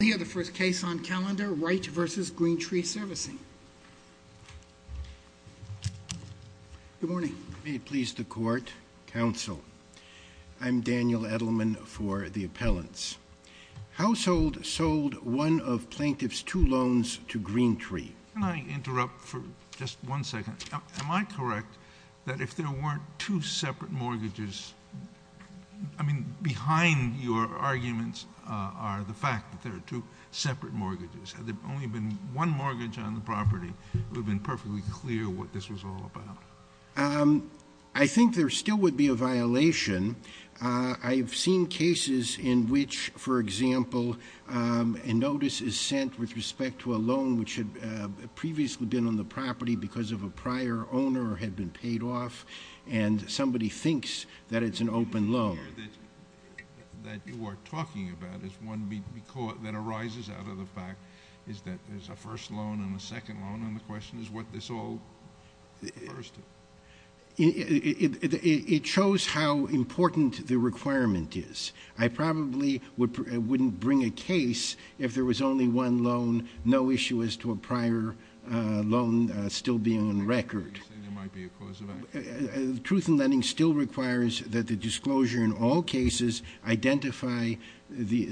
We have the first case on calendar, Wright v. Green Tree Servicing. Good morning. May it please the court, counsel, I'm Daniel Edelman for the appellants. Household sold one of plaintiff's two loans to Green Tree. Can I interrupt for just one second? Am I correct that if there weren't two separate mortgages, I mean, behind your arguments are the fact that there are two separate mortgages? Had there only been one mortgage on the property, it would have been perfectly clear what this was all about. I think there still would be a violation. I've seen cases in which, for example, a notice is sent with respect to a loan which had previously been on the property because of a prior owner or had been paid off, and somebody thinks that it's an open loan. That you are talking about is one that arises out of the fact that there's a first loan and a second loan, and the question is what this all refers to. It shows how important the requirement is. I probably wouldn't bring a case if there was only one loan, no issue as to a prior loan still being on record. You say there might be a cause of action. Truth in lending still requires that the disclosure in all cases identify the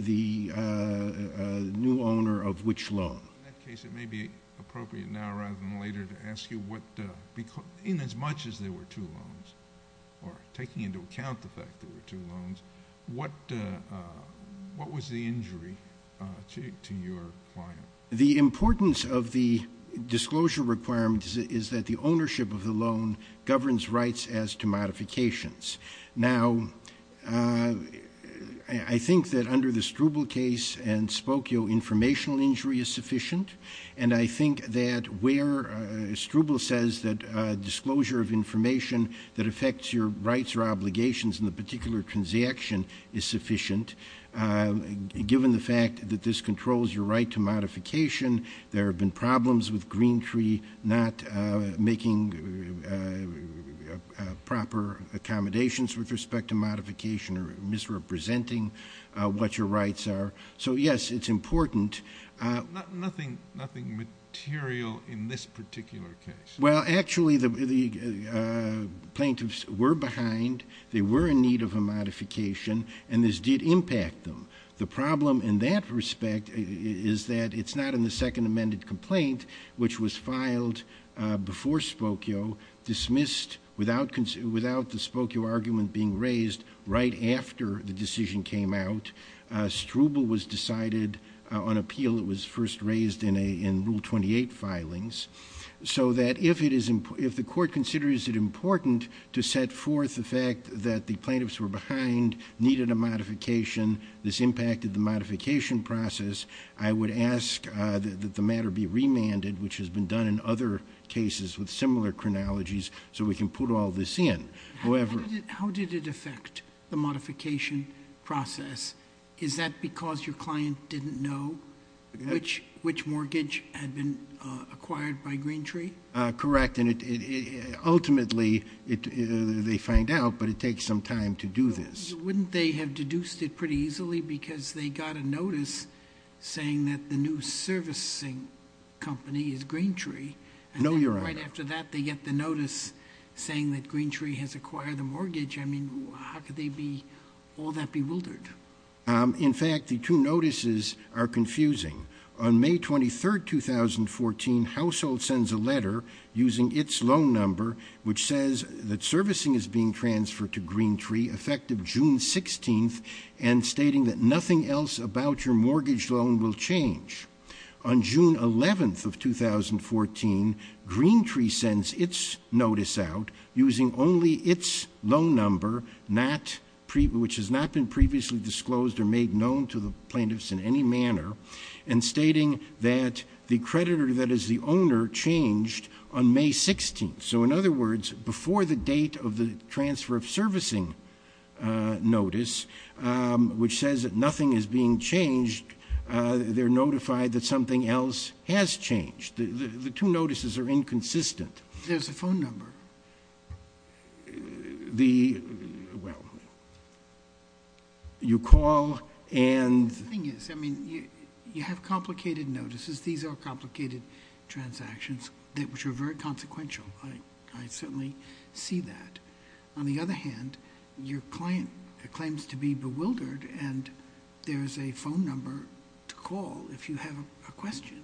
new owner of which loan. In that case, it may be appropriate now rather than later to ask you what, inasmuch as there were two loans, or taking into account the fact that there were two loans, what was the injury to your client? The importance of the disclosure requirement is that the ownership of the loan governs rights as to modifications. Now, I think that under the Struble case and Spokio, informational injury is sufficient, and I think that where Struble says that disclosure of information that affects your rights or obligations in the particular transaction is sufficient, given the fact that this controls your right to modification, there have been problems with Green Tree not making proper accommodations with respect to modification or misrepresenting what your rights are. So, yes, it's important. Nothing material in this particular case? Well, actually, the plaintiffs were behind. They were in need of a modification, and this did impact them. The problem in that respect is that it's not in the second amended complaint, which was filed before Spokio, dismissed without the Spokio argument being raised right after the decision came out. Struble was decided on appeal. It was first raised in Rule 28 filings. So that if the court considers it important to set forth the fact that the plaintiffs were behind, needed a modification, this impacted the modification process, I would ask that the matter be remanded, which has been done in other cases with similar chronologies, so we can put all this in. How did it affect the modification process? Is that because your client didn't know which mortgage had been acquired by Green Tree? Correct. Ultimately, they find out, but it takes some time to do this. Wouldn't they have deduced it pretty easily because they got a notice saying that the new servicing company is Green Tree? No, Your Honor. Right after that, they get the notice saying that Green Tree has acquired the mortgage. I mean, how could they be all that bewildered? In fact, the two notices are confusing. On May 23, 2014, Household sends a letter using its loan number, which says that servicing is being transferred to Green Tree effective June 16th and stating that nothing else about your mortgage loan will change. On June 11th of 2014, Green Tree sends its notice out using only its loan number, which has not been previously disclosed or made known to the plaintiffs in any manner, and stating that the creditor that is the owner changed on May 16th. So in other words, before the date of the transfer of servicing notice, which says that nothing is being changed, they're notified that something else has changed. The two notices are inconsistent. There's a phone number. The, well, you call and The thing is, I mean, you have complicated notices. These are complicated transactions, which are very consequential. I certainly see that. On the other hand, your client claims to be bewildered, and there's a phone number to call if you have a question.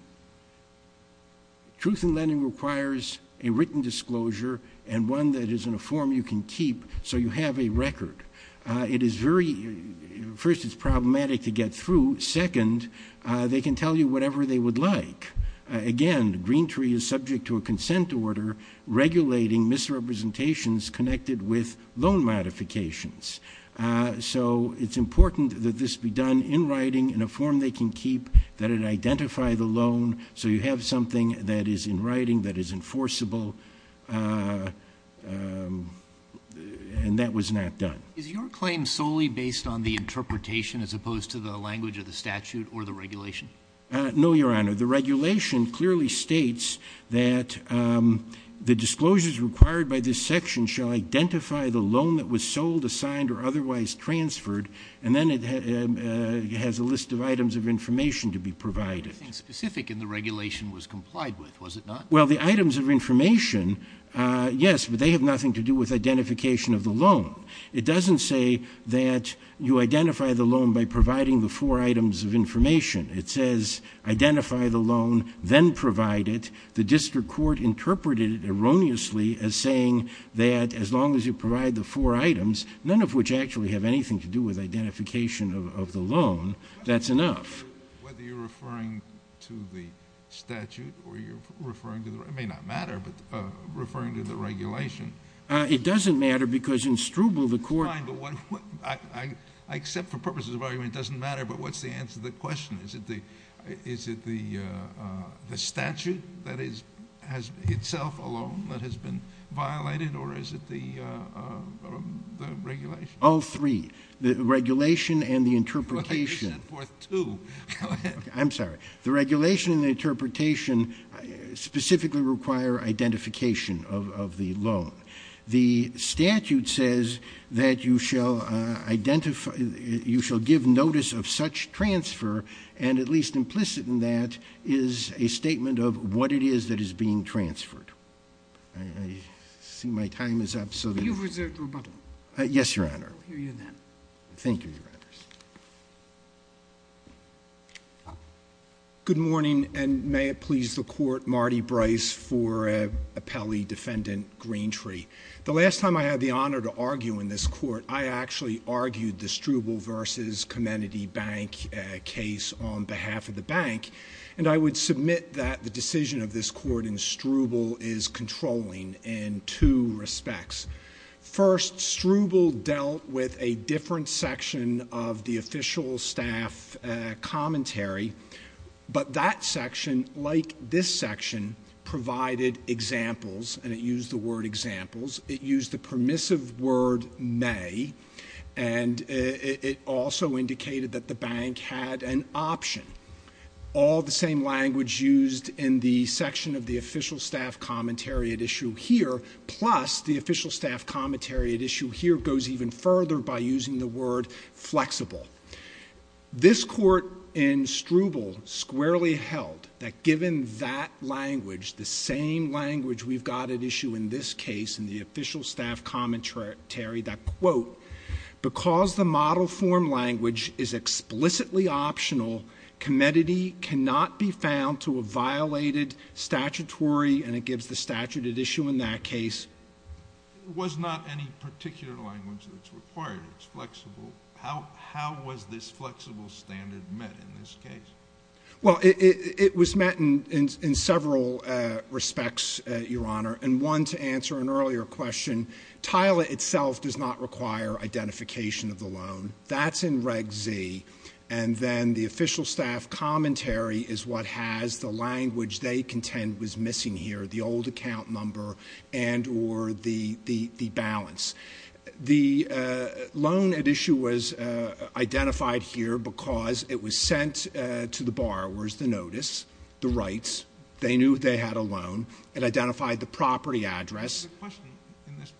Truth in lending requires a written disclosure and one that is in a form you can keep so you have a record. It is very, first, it's problematic to get through. Second, they can tell you whatever they would like. Again, Green Tree is subject to a consent order regulating misrepresentations connected with loan modifications. So it's important that this be done in writing in a form they can keep, that it identify the loan, so you have something that is in writing that is enforceable, and that was not done. Is your claim solely based on the interpretation as opposed to the language of the statute or the regulation? No, Your Honor. The regulation clearly states that the disclosures required by this section shall identify the loan that was sold, assigned, or otherwise transferred, and then it has a list of items of information to be provided. Nothing specific in the regulation was complied with, was it not? Well, the items of information, yes, but they have nothing to do with identification of the loan. It doesn't say that you identify the loan by providing the four items of information. It says identify the loan, then provide it. The district court interpreted it erroneously as saying that as long as you provide the four items, none of which actually have anything to do with identification of the loan, that's enough. Whether you're referring to the statute or you're referring to the regulation, it may not matter, but referring to the regulation. It doesn't matter because in Struble, the court- I accept for purposes of argument it doesn't matter, but what's the answer to the question? Is it the statute that has itself alone that has been violated, or is it the regulation? All three, the regulation and the interpretation. Well, you set forth two. Go ahead. I'm sorry. The regulation and the interpretation specifically require identification of the loan. The statute says that you shall give notice of such transfer, and at least implicit in that is a statement of what it is that is being transferred. I see my time is up, so then- You've reserved rebuttal. Yes, Your Honor. We'll hear you then. Thank you, Your Honors. Good morning, and may it please the Court, Marty Bryce for appellee defendant Greentree. The last time I had the honor to argue in this court, I actually argued the Struble v. Comenity Bank case on behalf of the bank, and I would submit that the decision of this court in Struble is controlling in two respects. First, Struble dealt with a different section of the official staff commentary, but that section, like this section, provided examples, and it used the word examples. It used the permissive word may, and it also indicated that the bank had an option. All the same language used in the section of the official staff commentary at issue here, plus the official staff commentary at issue here goes even further by using the word flexible. This court in Struble squarely held that given that language, the same language we've got at issue in this case in the official staff commentary, that, quote, because the model form language is explicitly optional, comenity cannot be found to have violated statutory, and it gives the statute at issue in that case. It was not any particular language that's required. It's flexible. How was this flexible standard met in this case? Well, it was met in several respects, Your Honor, and one to answer an earlier question. TILA itself does not require identification of the loan. That's in Reg Z, and then the official staff commentary is what has the language they contend was missing here, the old account number and or the balance. The loan at issue was identified here because it was sent to the borrowers, the notice, the rights. They knew they had a loan. It identified the property address. The question in this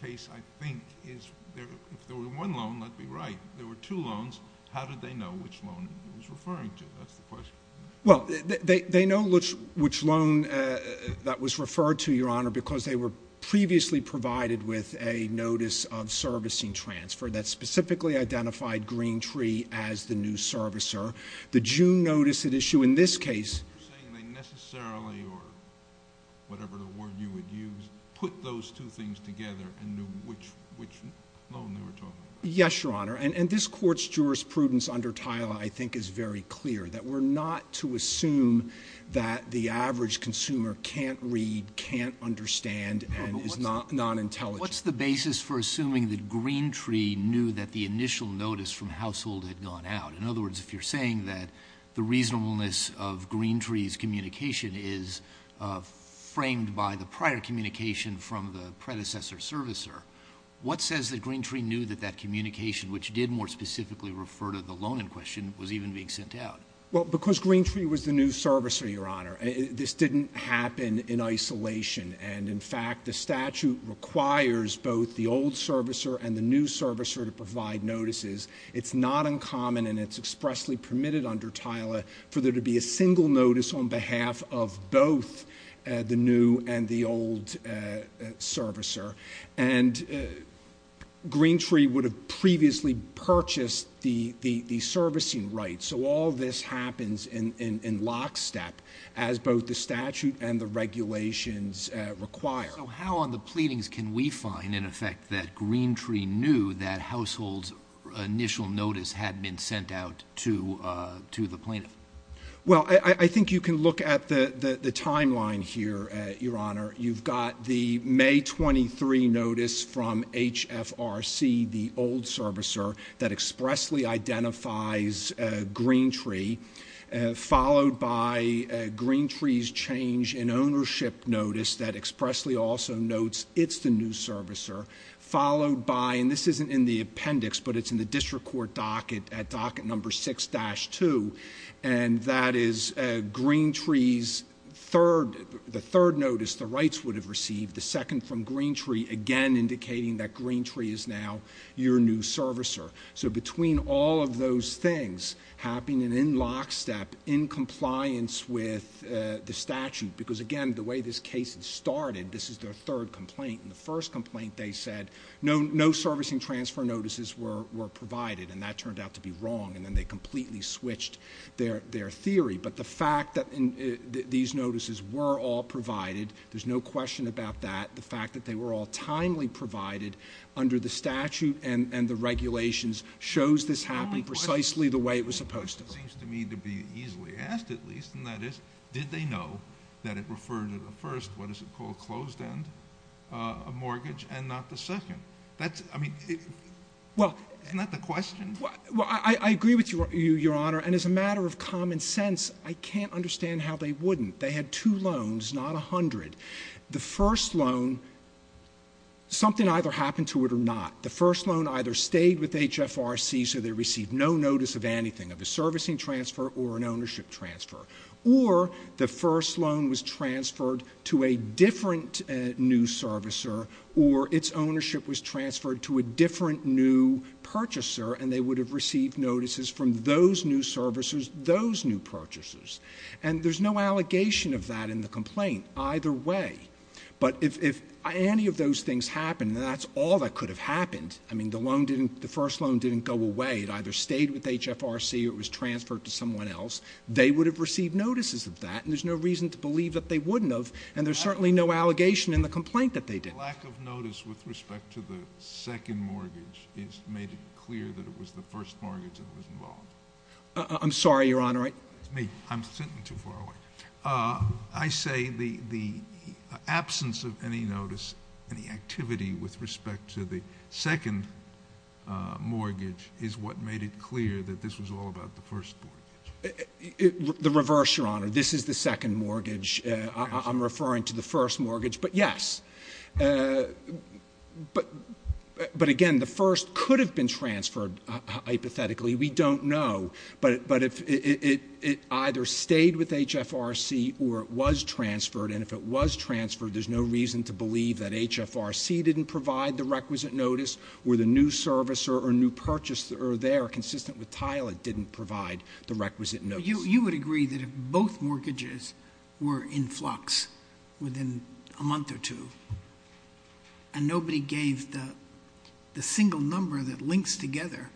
case, I think, is if there were one loan, that would be right. There were two loans. How did they know which loan it was referring to? That's the question. Well, they know which loan that was referred to, Your Honor, because they were previously provided with a notice of servicing transfer that specifically identified Green Tree as the new servicer. The June notice at issue in this case. Are you saying they necessarily, or whatever the word you would use, put those two things together and knew which loan they were talking about? Yes, Your Honor, and this Court's jurisprudence under TILA, I think, is very clear, that we're not to assume that the average consumer can't read, can't understand, and is non-intelligent. What's the basis for assuming that Green Tree knew that the initial notice from Household had gone out? In other words, if you're saying that the reasonableness of Green Tree's communication is framed by the prior communication from the predecessor servicer, what says that Green Tree knew that that communication, which did more specifically refer to the loan in question, was even being sent out? Well, because Green Tree was the new servicer, Your Honor, this didn't happen in isolation, and, in fact, the statute requires both the old servicer and the new servicer to provide notices. It's not uncommon, and it's expressly permitted under TILA, for there to be a single notice on behalf of both the new and the old servicer. And Green Tree would have previously purchased the servicing rights, so all this happens in lockstep as both the statute and the regulations require. So how on the pleadings can we find, in effect, that Green Tree knew that Household's initial notice had been sent out to the plaintiff? Well, I think you can look at the timeline here, Your Honor. You've got the May 23 notice from HFRC, the old servicer, that expressly identifies Green Tree, followed by Green Tree's change in ownership notice that expressly also notes it's the new servicer, followed by, and this isn't in the appendix, but it's in the district court docket at docket number 6-2, and that is Green Tree's third notice, the rights would have received, the second from Green Tree, again indicating that Green Tree is now your new servicer. So between all of those things happening in lockstep in compliance with the statute, because, again, the way this case started, this is their third complaint, and the first complaint they said no servicing transfer notices were provided, and that turned out to be wrong, and then they completely switched their theory. But the fact that these notices were all provided, there's no question about that, the fact that they were all timely provided under the statute and the regulations shows this happened precisely the way it was supposed to. It seems to me to be easily asked, at least, and that is, did they know that it referred to the first, what is it called, closed-end mortgage and not the second? That's, I mean, isn't that the question? Well, I agree with you, Your Honor, and as a matter of common sense, I can't understand how they wouldn't. They had two loans, not 100. The first loan, something either happened to it or not. The first loan either stayed with HFRC so they received no notice of anything, of a servicing transfer or an ownership transfer, or the first loan was transferred to a different new servicer or its ownership was transferred to a different new purchaser and they would have received notices from those new servicers, those new purchasers. And there's no allegation of that in the complaint either way. But if any of those things happened, that's all that could have happened. I mean, the loan didn't, the first loan didn't go away. It either stayed with HFRC or it was transferred to someone else. They would have received notices of that and there's no reason to believe that they wouldn't have and there's certainly no allegation in the complaint that they didn't. The lack of notice with respect to the second mortgage made it clear that it was the first mortgage that was involved. I'm sorry, Your Honor. It's me. I'm sitting too far away. I say the absence of any notice, any activity with respect to the second mortgage is what made it clear that this was all about the first mortgage. The reverse, Your Honor. This is the second mortgage. I'm referring to the first mortgage, but yes. But again, the first could have been transferred hypothetically. We don't know. But if it either stayed with HFRC or it was transferred and if it was transferred, there's no reason to believe that HFRC didn't provide the requisite notice or the new service or new purchase there, consistent with Tyler, didn't provide the requisite notice. You would agree that if both mortgages were in flux within a month or two and nobody gave the single number that links together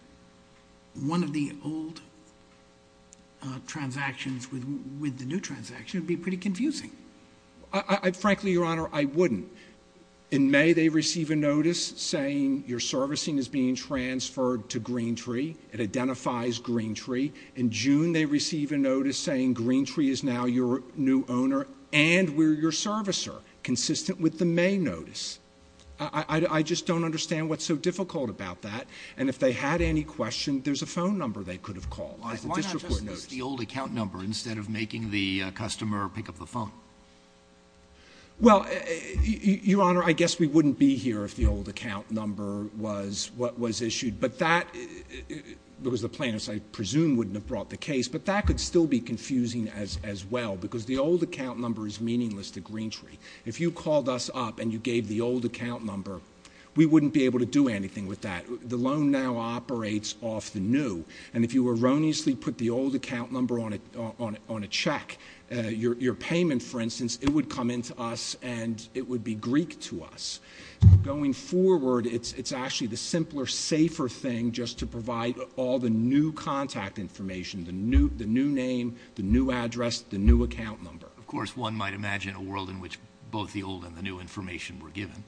one of the old transactions with the new transaction, it would be pretty confusing. Frankly, Your Honor, I wouldn't. In May, they receive a notice saying your servicing is being transferred to Greentree. It identifies Greentree. In June, they receive a notice saying Greentree is now your new owner and we're your servicer, consistent with the May notice. I just don't understand what's so difficult about that. And if they had any question, there's a phone number they could have called. Why not just use the old account number instead of making the customer pick up the phone? Well, Your Honor, I guess we wouldn't be here if the old account number was what was issued. But that was the plaintiffs I presume wouldn't have brought the case. But that could still be confusing as well because the old account number is meaningless to Greentree. If you called us up and you gave the old account number, we wouldn't be able to do anything with that. The loan now operates off the new. And if you erroneously put the old account number on a check, your payment, for instance, it would come in to us and it would be Greek to us. Going forward, it's actually the simpler, safer thing just to provide all the new contact information, the new name, the new address, the new account number. Of course, one might imagine a world in which both the old and the new information were given.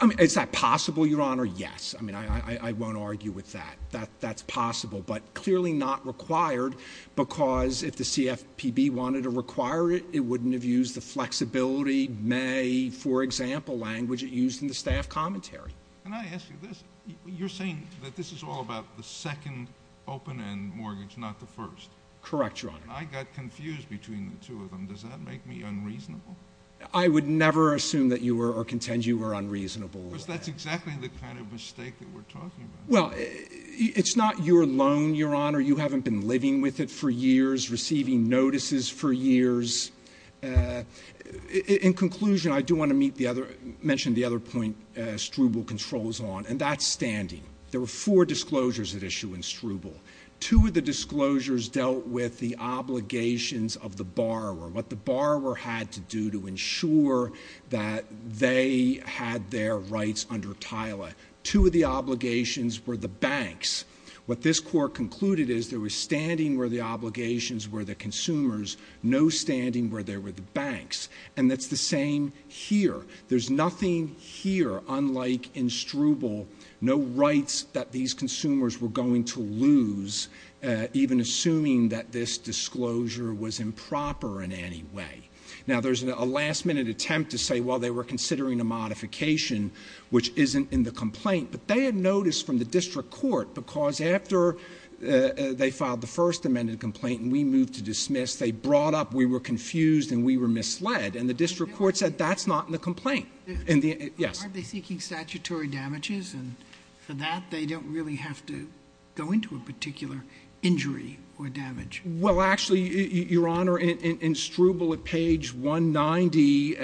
I mean, is that possible, Your Honor? Yes. I mean, I won't argue with that. That's possible, but clearly not required because if the CFPB wanted to require it, it wouldn't have used the flexibility May, for example, language it used in the staff commentary. Can I ask you this? You're saying that this is all about the second open-end mortgage, not the first. Correct, Your Honor. I got confused between the two of them. Does that make me unreasonable? I would never assume that you were or contend you were unreasonable. Because that's exactly the kind of mistake that we're talking about. Well, it's not your loan, Your Honor. You haven't been living with it for years, receiving notices for years. In conclusion, I do want to mention the other point Struble controls on, and that's standing. There were four disclosures at issue in Struble. Two of the disclosures dealt with the obligations of the borrower, what the borrower had to do to ensure that they had their rights under TILA. Two of the obligations were the banks. What this Court concluded is there was standing where the obligations were the consumers, no standing where there were the banks. And that's the same here. There's nothing here, unlike in Struble, no rights that these consumers were going to lose, even assuming that this disclosure was improper in any way. Now, there's a last-minute attempt to say, well, they were considering a modification, which isn't in the complaint. But they had notice from the district court, because after they filed the first amended complaint and we moved to dismiss, they brought up we were confused and we were misled. And the district court said that's not in the complaint. Yes. Aren't they seeking statutory damages? And for that, they don't really have to go into a particular injury or damage. Well, actually, Your Honor, in Struble at page 190,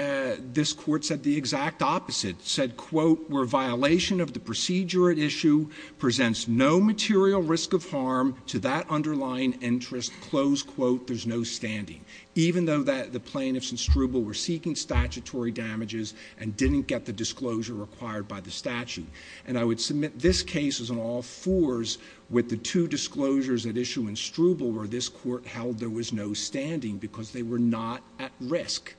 this Court said the exact opposite, said, quote, where violation of the procedure at issue presents no material risk of harm to that underlying interest, close quote, there's no standing, even though the plaintiffs in Struble were seeking statutory damages and didn't get the disclosure required by the statute. And I would submit this case is on all fours with the two disclosures at issue in Struble where this Court held there was no standing because they were not at risk.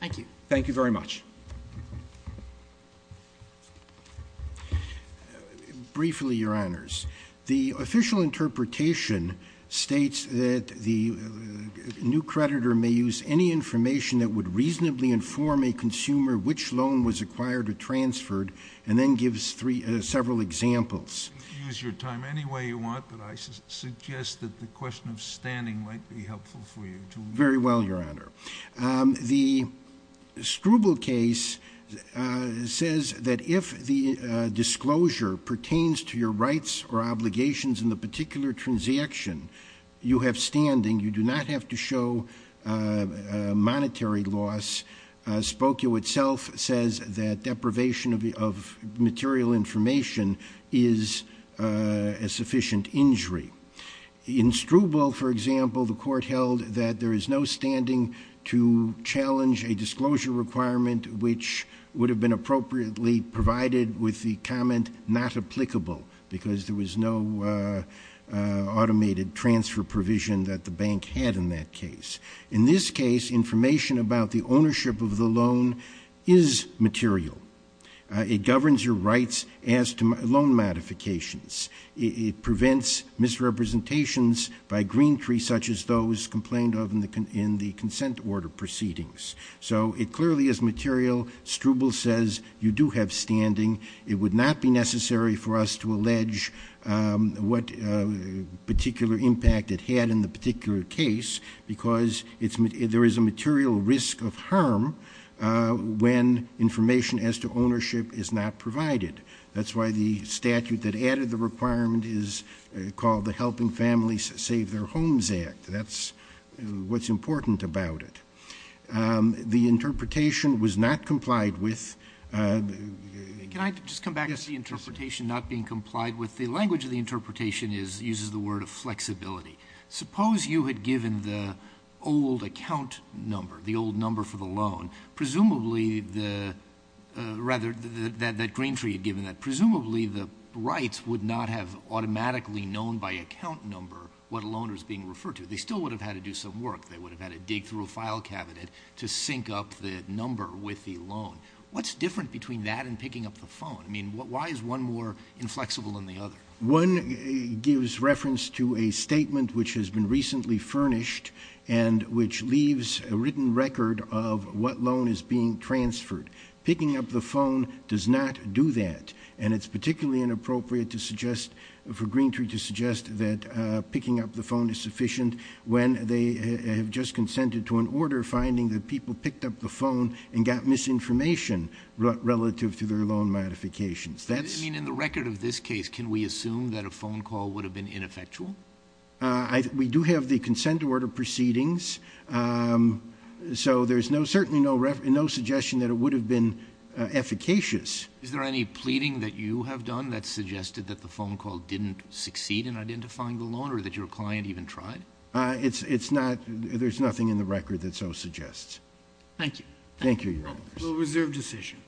Thank you. Thank you very much. Briefly, Your Honors, the official interpretation states that the new creditor may use any information that would reasonably inform a consumer which loan was acquired or transferred and then gives several examples. Use your time any way you want, but I suggest that the question of standing might be helpful for you. Very well, Your Honor. The Struble case says that if the disclosure pertains to your rights or obligations in the particular transaction you have standing, you do not have to show monetary loss. Spokio itself says that deprivation of material information is a sufficient injury. In Struble, for example, the Court held that there is no standing to challenge a disclosure requirement which would have been appropriately provided with the comment not applicable because there was no automated transfer provision that the bank had in that case. In this case, information about the ownership of the loan is material. It governs your rights as to loan modifications. It prevents misrepresentations by green trees such as those complained of in the consent order proceedings. So it clearly is material. Struble says you do have standing. It would not be necessary for us to allege what particular impact it had in the particular case because there is a material risk of harm when information as to ownership is not provided. That's why the statute that added the requirement is called the Helping Families Save Their Homes Act. That's what's important about it. The interpretation was not complied with. Can I just come back to the interpretation not being complied with? The language of the interpretation uses the word of flexibility. Suppose you had given the old account number, the old number for the loan, presumably the rights would not have automatically known by account number what a loaner is being referred to. They still would have had to do some work. They would have had to dig through a file cabinet to sync up the number with the loan. What's different between that and picking up the phone? I mean, why is one more inflexible than the other? One gives reference to a statement which has been recently furnished and which leaves a written record of what loan is being transferred. Picking up the phone does not do that, and it's particularly inappropriate for Green Tree to suggest that picking up the phone is sufficient when they have just consented to an order finding that people picked up the phone and got misinformation relative to their loan modifications. I mean, in the record of this case, can we assume that a phone call would have been ineffectual? We do have the consent order proceedings, so there's certainly no suggestion that it would have been efficacious. Is there any pleading that you have done that suggested that the phone call didn't succeed in identifying the loaner, that your client even tried? It's not. There's nothing in the record that so suggests. Thank you. Thank you, Your Honors. We'll reserve decision.